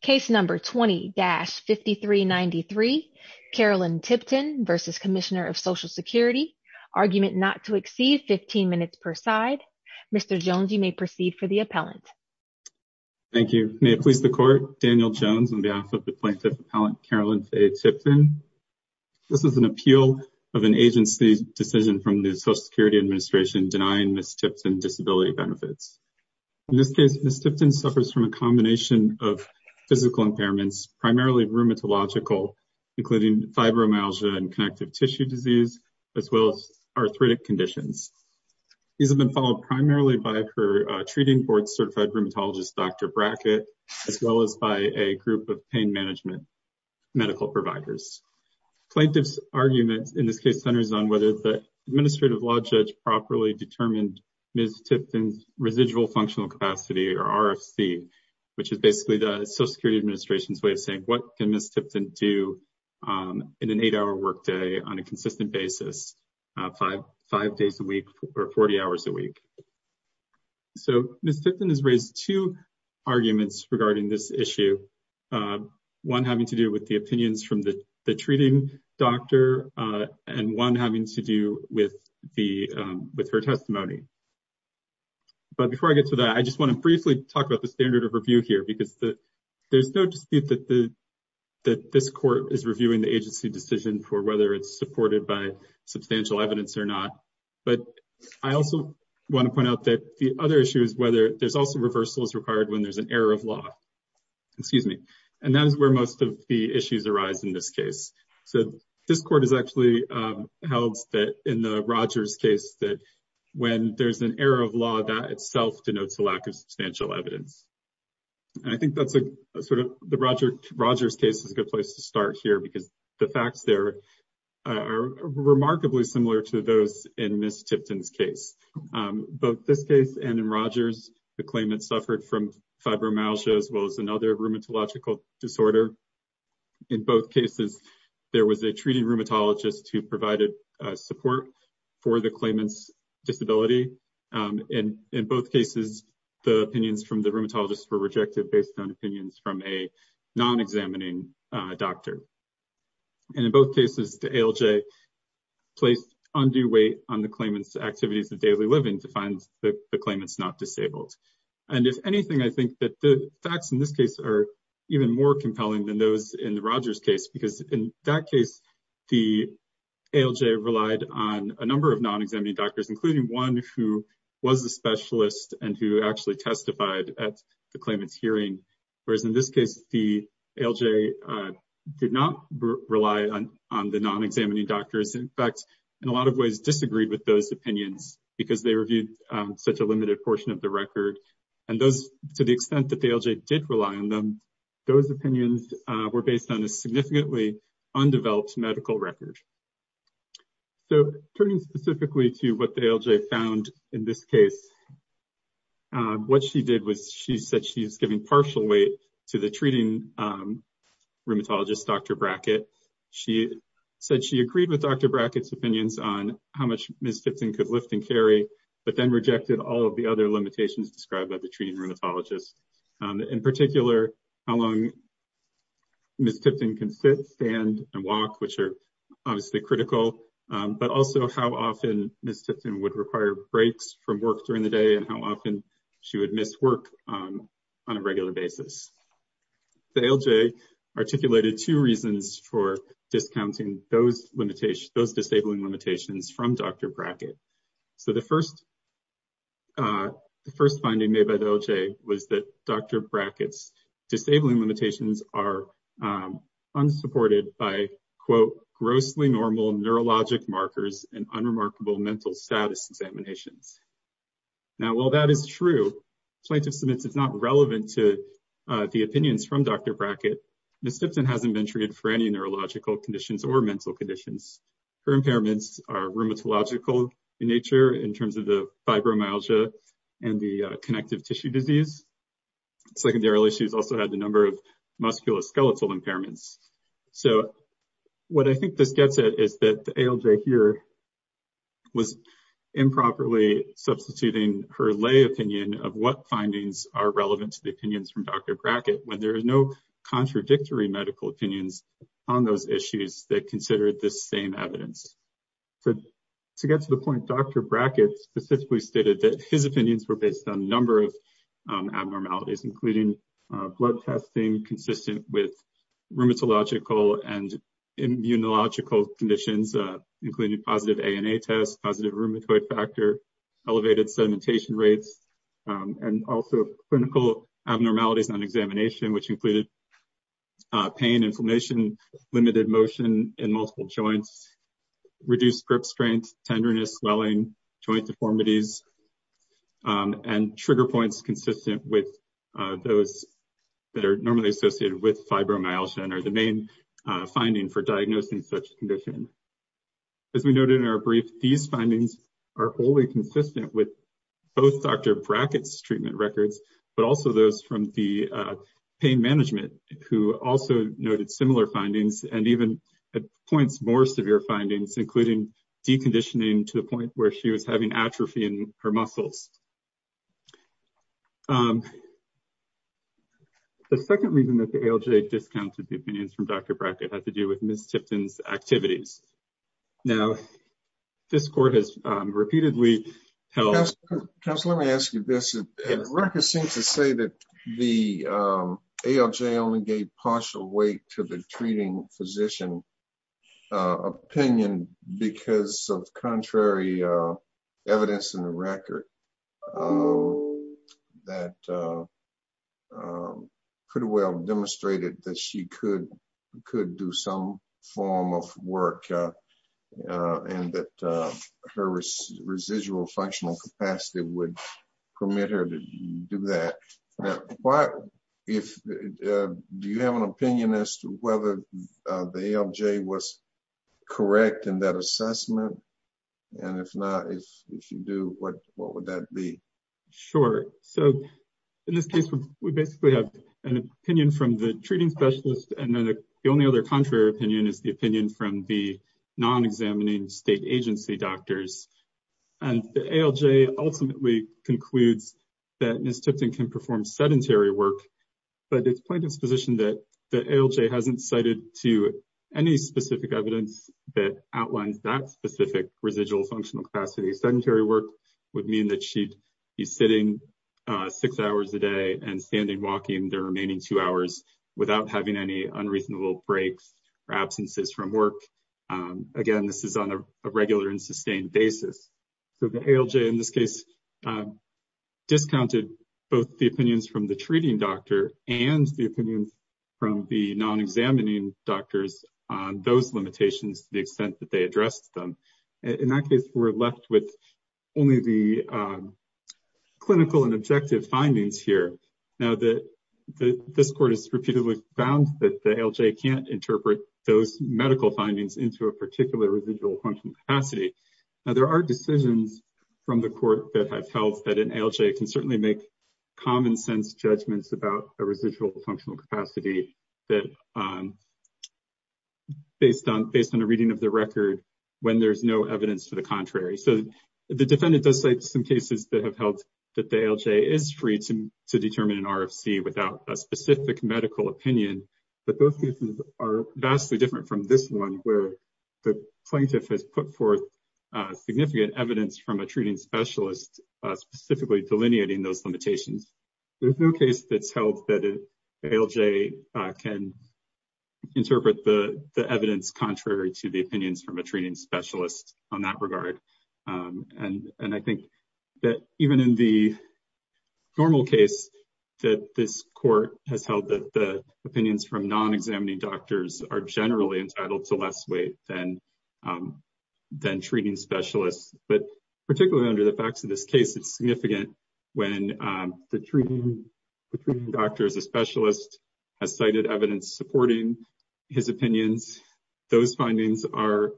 Case No. 20-5393, Carolyn Tipton v. Comm of Social Security Argument not to exceed 15 minutes per side Mr. Jones, you may proceed for the appellant Thank you. May it please the Court, Daniel Jones on behalf of the plaintiff appellant Carolyn Fay Tipton This is an appeal of an agency decision from the Social Security Administration denying Ms. Tipton disability benefits In this case, Ms. Tipton suffers from a combination of physical impairments, primarily rheumatological including fibromyalgia and connective tissue disease, as well as arthritic conditions These have been followed primarily by her treating board certified rheumatologist Dr. Brackett as well as by a group of pain management medical providers Plaintiff's argument in this case centers on whether the administrative law judge properly determined Ms. Tipton's residual functional capacity or RFC which is basically the Social Security Administration's way of saying what can Ms. Tipton do in an 8-hour workday on a consistent basis, 5 days a week or 40 hours a week So Ms. Tipton has raised two arguments regarding this issue One having to do with the opinions from the treating doctor and one having to do with her testimony But before I get to that, I just want to briefly talk about the standard of review here because there's no dispute that this court is reviewing the agency decision for whether it's supported by substantial evidence or not But I also want to point out that the other issue is whether there's also reversals required when there's an error of law And that is where most of the issues arise in this case So this court has actually held that in the Rogers case that when there's an error of law, that itself denotes a lack of substantial evidence And I think that the Rogers case is a good place to start here because the facts there are remarkably similar to those in Ms. Tipton's case Both this case and in Rogers, the claimant suffered from fibromyalgia as well as another rheumatological disorder In both cases, there was a treating rheumatologist who provided support for the claimant's disability In both cases, the opinions from the rheumatologist were rejected based on opinions from a non-examining doctor And in both cases, the ALJ placed undue weight on the claimant's activities of daily living to find the claimant's not disabled And if anything, I think that the facts in this case are even more compelling than those in the Rogers case Because in that case, the ALJ relied on a number of non-examining doctors, including one who was a specialist and who actually testified at the claimant's hearing Whereas in this case, the ALJ did not rely on the non-examining doctors In fact, in a lot of ways, disagreed with those opinions because they reviewed such a limited portion of the record And to the extent that the ALJ did rely on them, those opinions were based on a significantly undeveloped medical record So turning specifically to what the ALJ found in this case, what she did was she said she was giving partial weight to the treating rheumatologist, Dr. Brackett She said she agreed with Dr. Brackett's opinions on how much Ms. Tipton could lift and carry, but then rejected all of the other limitations described by the treating rheumatologist In particular, how long Ms. Tipton can sit, stand, and walk, which are obviously critical But also how often Ms. Tipton would require breaks from work during the day and how often she would miss work on a regular basis The ALJ articulated two reasons for discounting those disabling limitations from Dr. Brackett So the first finding made by the ALJ was that Dr. Brackett's disabling limitations are unsupported by Now while that is true, plaintiff submits it's not relevant to the opinions from Dr. Brackett Ms. Tipton hasn't been treated for any neurological conditions or mental conditions Her impairments are rheumatological in nature in terms of the fibromyalgia and the connective tissue disease Secondarily, she's also had a number of musculoskeletal impairments So what I think this gets at is that the ALJ here was improperly substituting her lay opinion of what findings are relevant to the opinions from Dr. Brackett When there are no contradictory medical opinions on those issues that consider this same evidence To get to the point, Dr. Brackett specifically stated that his opinions were based on a number of abnormalities Including blood testing consistent with rheumatological and immunological conditions Including positive ANA tests, positive rheumatoid factor, elevated sedimentation rates And also clinical abnormalities on examination which included pain, inflammation, limited motion in multiple joints Reduced grip strength, tenderness, swelling, joint deformities And trigger points consistent with those that are normally associated with fibromyalgia And are the main finding for diagnosing such conditions As we noted in our brief, these findings are wholly consistent with both Dr. Brackett's treatment records But also those from the pain management who also noted similar findings And even points more severe findings including deconditioning to the point where she was having atrophy in her muscles The second reason that the ALJ discounted the opinions from Dr. Brackett had to do with Ms. Tipton's activities Now, this court has repeatedly held Counselor, let me ask you this, records seem to say that the ALJ only gave partial weight to the treating physician opinion Because of contrary evidence in the record That pretty well demonstrated that she could do some form of work And that her residual functional capacity would permit her to do that Now, do you have an opinion as to whether the ALJ was correct in that assessment? And if not, if you do, what would that be? Sure, so in this case we basically have an opinion from the treating specialist And the only other contrary opinion is the opinion from the non-examining state agency doctors And the ALJ ultimately concludes that Ms. Tipton can perform sedentary work But it's plain disposition that the ALJ hasn't cited to any specific evidence that outlines that specific residual functional capacity Sedentary work would mean that she'd be sitting six hours a day and standing walking the remaining two hours Without having any unreasonable breaks or absences from work Again, this is on a regular and sustained basis So the ALJ in this case discounted both the opinions from the treating doctor And the opinions from the non-examining doctors on those limitations to the extent that they addressed them In that case, we're left with only the clinical and objective findings here Now, this court has repeatedly found that the ALJ can't interpret those medical findings into a particular residual functional capacity Now, there are decisions from the court that have held that an ALJ can certainly make common sense judgments about a residual functional capacity Based on a reading of the record when there's no evidence to the contrary So the defendant does cite some cases that have held that the ALJ is free to determine an RFC without a specific medical opinion But those cases are vastly different from this one where the plaintiff has put forth significant evidence from a treating specialist Specifically delineating those limitations There's no case that's held that an ALJ can interpret the evidence contrary to the opinions from a treating specialist on that regard And I think that even in the normal case that this court has held that the opinions from non-examining doctors are generally entitled to less weight than treating specialists But particularly under the facts of this case, it's significant when the treating doctor as a specialist has cited evidence supporting his opinions Those findings are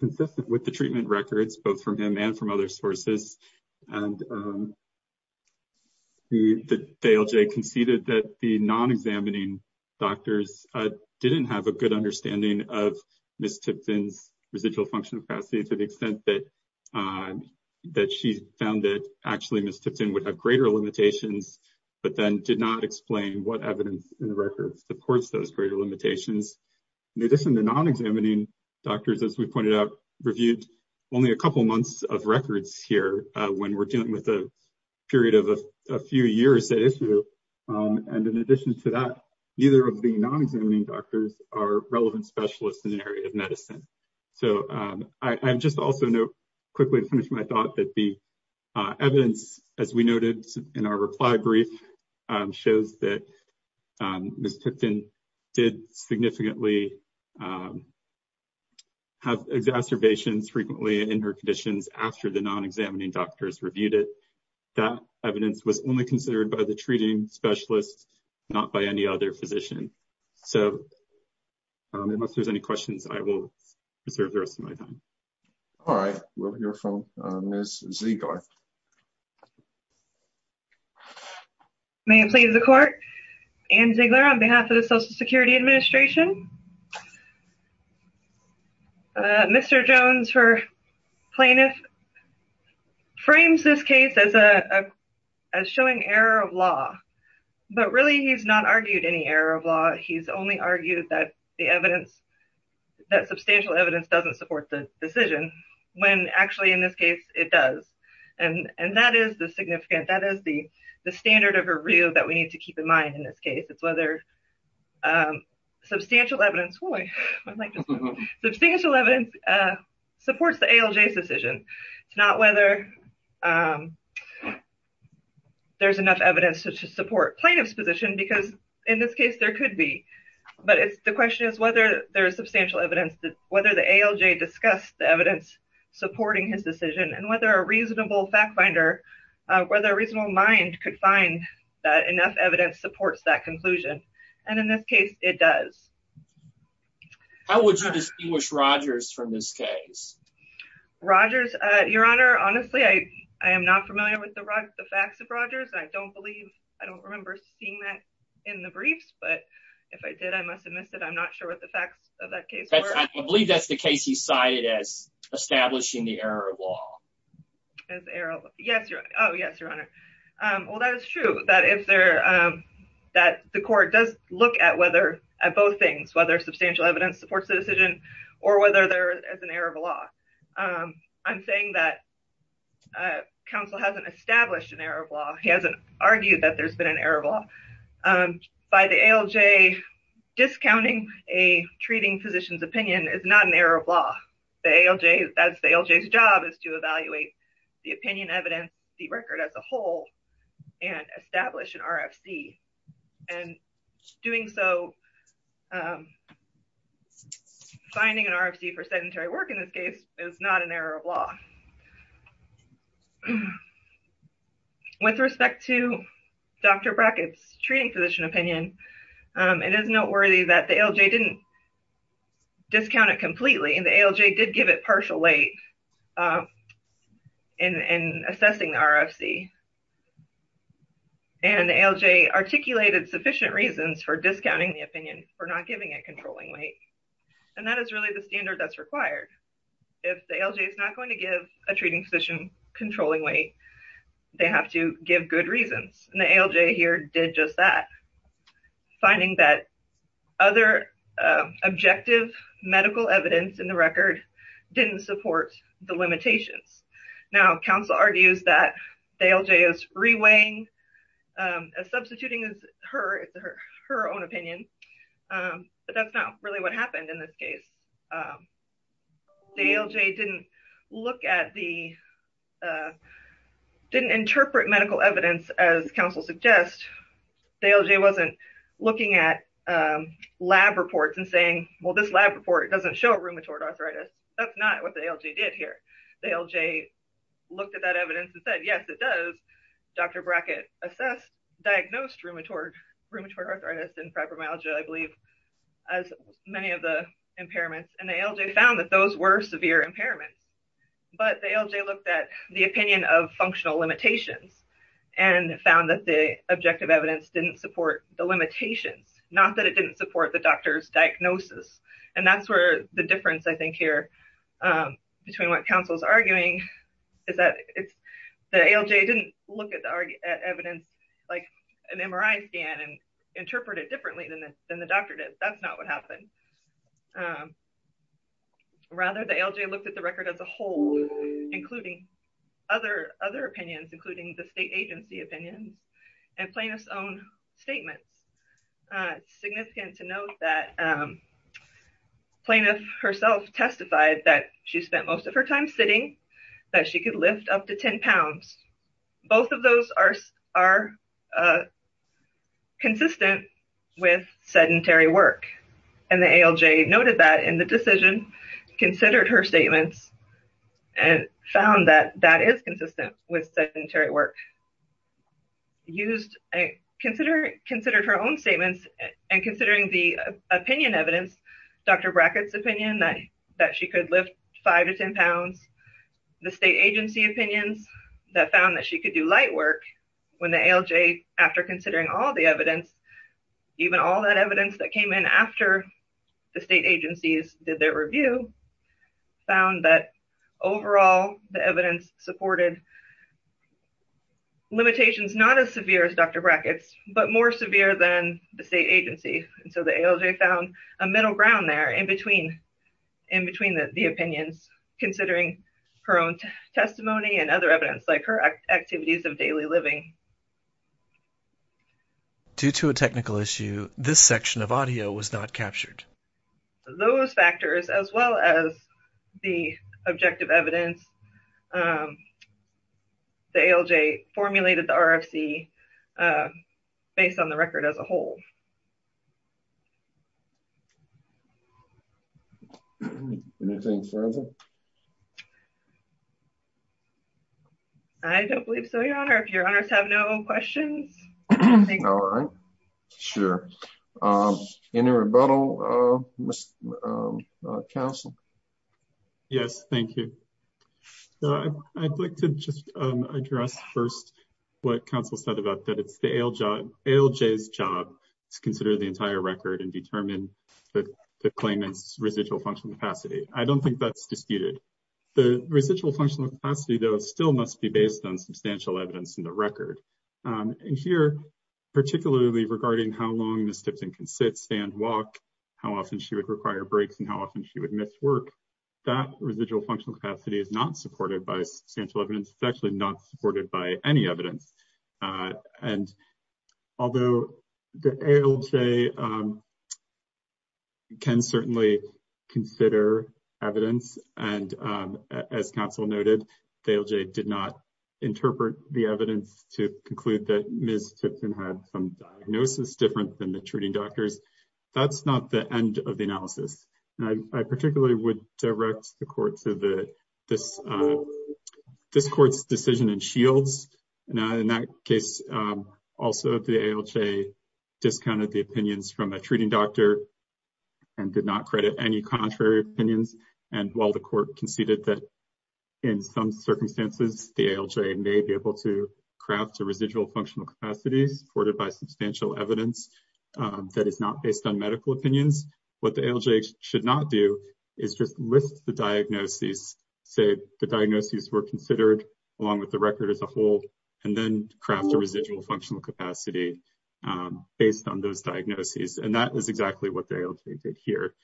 consistent with the treatment records both from him and from other sources And the ALJ conceded that the non-examining doctors didn't have a good understanding of Ms. Tipton's residual functional capacity To the extent that she found that actually Ms. Tipton would have greater limitations But then did not explain what evidence in the records supports those greater limitations In addition, the non-examining doctors, as we pointed out, reviewed only a couple of months of records here When we're dealing with a period of a few years at issue And in addition to that, neither of the non-examining doctors are relevant specialists in the area of medicine So I just also note quickly to finish my thought that the evidence, as we noted in our reply brief Shows that Ms. Tipton did significantly have exacerbations frequently in her conditions after the non-examining doctors reviewed it That evidence was only considered by the treating specialist, not by any other physician So unless there's any questions, I will reserve the rest of my time All right, we'll hear from Ms. Ziegler May it please the court, Anne Ziegler on behalf of the Social Security Administration Mr. Jones, her plaintiff, frames this case as showing error of law But really he's not argued any error of law He's only argued that substantial evidence doesn't support the decision When actually in this case it does And that is the standard of review that we need to keep in mind in this case It's whether substantial evidence supports the ALJ's decision It's not whether there's enough evidence to support plaintiff's position Because in this case there could be But the question is whether there is substantial evidence Whether the ALJ discussed the evidence supporting his decision And whether a reasonable fact finder, whether a reasonable mind could find that enough evidence supports that conclusion And in this case it does How would you distinguish Rogers from this case? Rogers, your honor, honestly I am not familiar with the facts of Rogers I don't remember seeing that in the briefs But if I did I must have missed it, I'm not sure what the facts of that case were I believe that's the case he cited as establishing the error of law Oh yes, your honor Well that is true, that the court does look at both things Whether substantial evidence supports the decision or whether there is an error of law I'm saying that counsel hasn't established an error of law He hasn't argued that there's been an error of law By the ALJ discounting a treating physician's opinion is not an error of law The ALJ's job is to evaluate the opinion, evidence, the record as a whole And establish an RFC And doing so, finding an RFC for sedentary work in this case is not an error of law With respect to Dr. Brackett's treating physician opinion It is noteworthy that the ALJ didn't discount it completely And the ALJ did give it partial weight in assessing the RFC And the ALJ articulated sufficient reasons for discounting the opinion For not giving it controlling weight And that is really the standard that's required If the ALJ is not going to give a treating physician controlling weight They have to give good reasons And the ALJ here did just that Finding that other objective medical evidence in the record didn't support the limitations Now, counsel argues that the ALJ is reweighing Substituting her own opinion But that's not really what happened in this case The ALJ didn't look at the Didn't interpret medical evidence as counsel suggests The ALJ wasn't looking at lab reports and saying Well, this lab report doesn't show rheumatoid arthritis That's not what the ALJ did here The ALJ looked at that evidence and said, yes, it does Dr. Brackett assessed, diagnosed rheumatoid arthritis and fibromyalgia I believe as many of the impairments And the ALJ found that those were severe impairments But the ALJ looked at the opinion of functional limitations And found that the objective evidence didn't support the limitations Not that it didn't support the doctor's diagnosis And that's where the difference, I think, here between what counsel is arguing Is that the ALJ didn't look at the evidence like an MRI scan And interpret it differently than the doctor did That's not what happened Rather, the ALJ looked at the record as a whole, including other opinions Including the state agency opinions and plaintiff's own statements It's significant to note that plaintiff herself testified That she spent most of her time sitting, that she could lift up to 10 pounds Both of those are consistent with sedentary work And the ALJ noted that in the decision, considered her statements And found that that is consistent with sedentary work And considered her own statements And considering the opinion evidence, Dr. Brackett's opinion That she could lift 5 to 10 pounds The state agency opinions that found that she could do light work When the ALJ, after considering all the evidence Even all that evidence that came in after the state agencies did their review Found that overall, the evidence supported limitations Not as severe as Dr. Brackett's, but more severe than the state agency So the ALJ found a middle ground there in between the opinions Considering her own testimony and other evidence Like her activities of daily living Due to a technical issue, this section of audio was not captured Those factors as well as the objective evidence The ALJ formulated the RFC based on the record as a whole Anything further? I don't believe so, your honor If your honors have no questions All right, sure Any rebuttal, counsel? Yes, thank you I'd like to just address first What counsel said about that it's the ALJ's job To consider the entire record and determine the claimant's residual functional capacity I don't think that's disputed The residual functional capacity, though, still must be based on substantial evidence in the record And here, particularly regarding how long Ms. Tipton can sit, stand, walk How often she would require breaks and how often she would miss work That residual functional capacity is not supported by substantial evidence It's actually not supported by any evidence And although the ALJ can certainly consider evidence As counsel noted, the ALJ did not interpret the evidence to conclude that Ms. Tipton had some diagnosis different than the treating doctors That's not the end of the analysis I particularly would direct the court to this court's decision in Shields In that case, also the ALJ discounted the opinions from a treating doctor And did not credit any contrary opinions And while the court conceded that in some circumstances The ALJ may be able to craft a residual functional capacity supported by substantial evidence That is not based on medical opinions What the ALJ should not do is just list the diagnoses Say the diagnoses were considered along with the record as a whole And then craft a residual functional capacity based on those diagnoses And that is exactly what the ALJ did here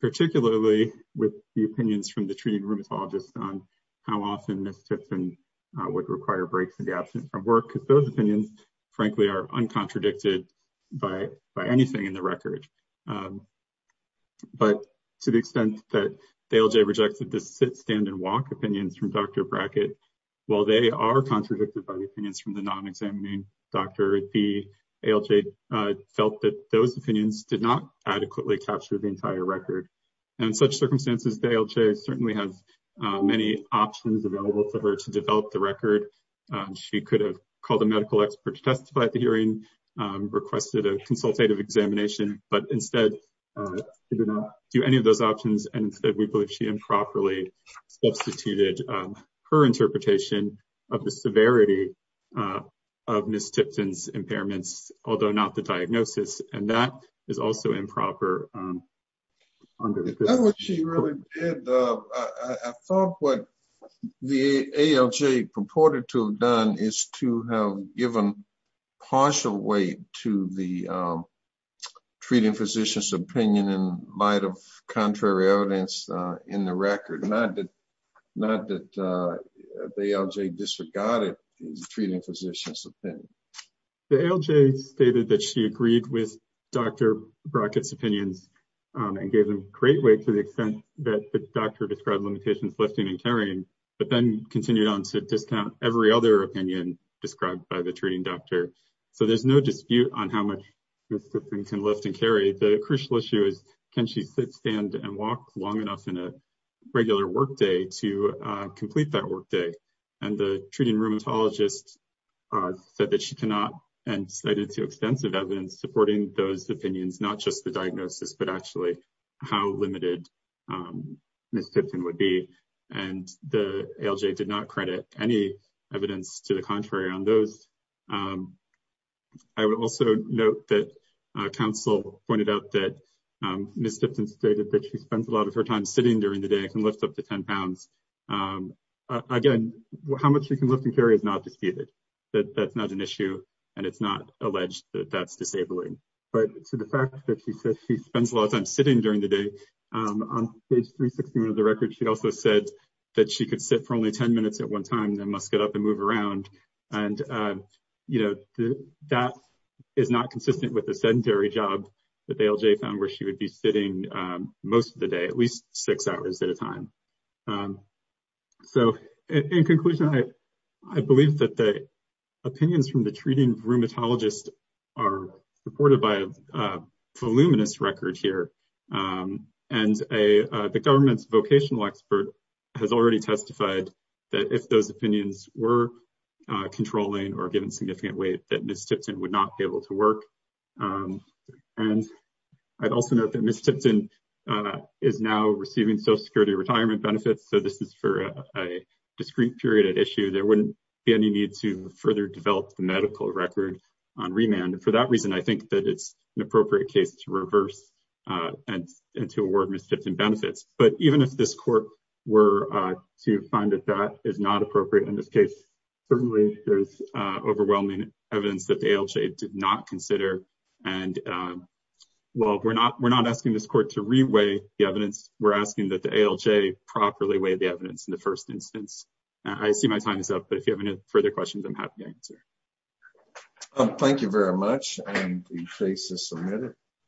Particularly with the opinions from the treating rheumatologist On how often Ms. Tipton would require breaks in the absence of work Because those opinions frankly are uncontradicted by anything in the record But to the extent that the ALJ rejected the sit, stand and walk opinions from Dr. Brackett While they are contradicted by the opinions from the non-examining doctor The ALJ felt that those opinions did not adequately capture the entire record And in such circumstances, the ALJ certainly has many options available for her to develop the record She could have called a medical expert to testify at the hearing Requested a consultative examination But instead, she did not do any of those options And instead we believe she improperly substituted her interpretation Of the severity of Ms. Tipton's impairments Although not the diagnosis And that is also improper That's what she really did I thought what the ALJ purported to have done Is to have given partial weight to the treating physician's opinion In light of contrary evidence in the record Not that the ALJ disregarded the treating physician's opinion The ALJ stated that she agreed with Dr. Brackett's opinions And gave them great weight to the extent that the doctor described limitations lifting and carrying But then continued on to discount every other opinion described by the treating doctor So there's no dispute on how much Ms. Tipton can lift and carry The crucial issue is can she sit, stand, and walk long enough in a regular work day to complete that work day And the treating rheumatologist said that she cannot And cited to extensive evidence supporting those opinions Not just the diagnosis, but actually how limited Ms. Tipton would be And the ALJ did not credit any evidence to the contrary on those I would also note that counsel pointed out that Ms. Tipton stated that she spends a lot of her time sitting during the day And can lift up to 10 pounds Again, how much she can lift and carry is not disputed That's not an issue and it's not alleged that that's disabling But to the fact that she said she spends a lot of time sitting during the day On page 361 of the record, she also said that she could sit for only 10 minutes at one time And then must get up and move around And that is not consistent with the sedentary job that the ALJ found where she would be sitting most of the day At least six hours at a time So in conclusion, I believe that the opinions from the treating rheumatologist are supported by a voluminous record here And the government's vocational expert has already testified that if those opinions were controlling or given significant weight That Ms. Tipton would not be able to work And I'd also note that Ms. Tipton is now receiving social security retirement benefits So this is for a discrete period at issue There wouldn't be any need to further develop the medical record on remand And for that reason, I think that it's an appropriate case to reverse and to award Ms. Tipton benefits But even if this court were to find that that is not appropriate in this case Certainly, there's overwhelming evidence that the ALJ did not consider And while we're not asking this court to reweigh the evidence We're asking that the ALJ properly weigh the evidence in the first instance I see my time is up, but if you have any further questions, I'm happy to answer Thank you very much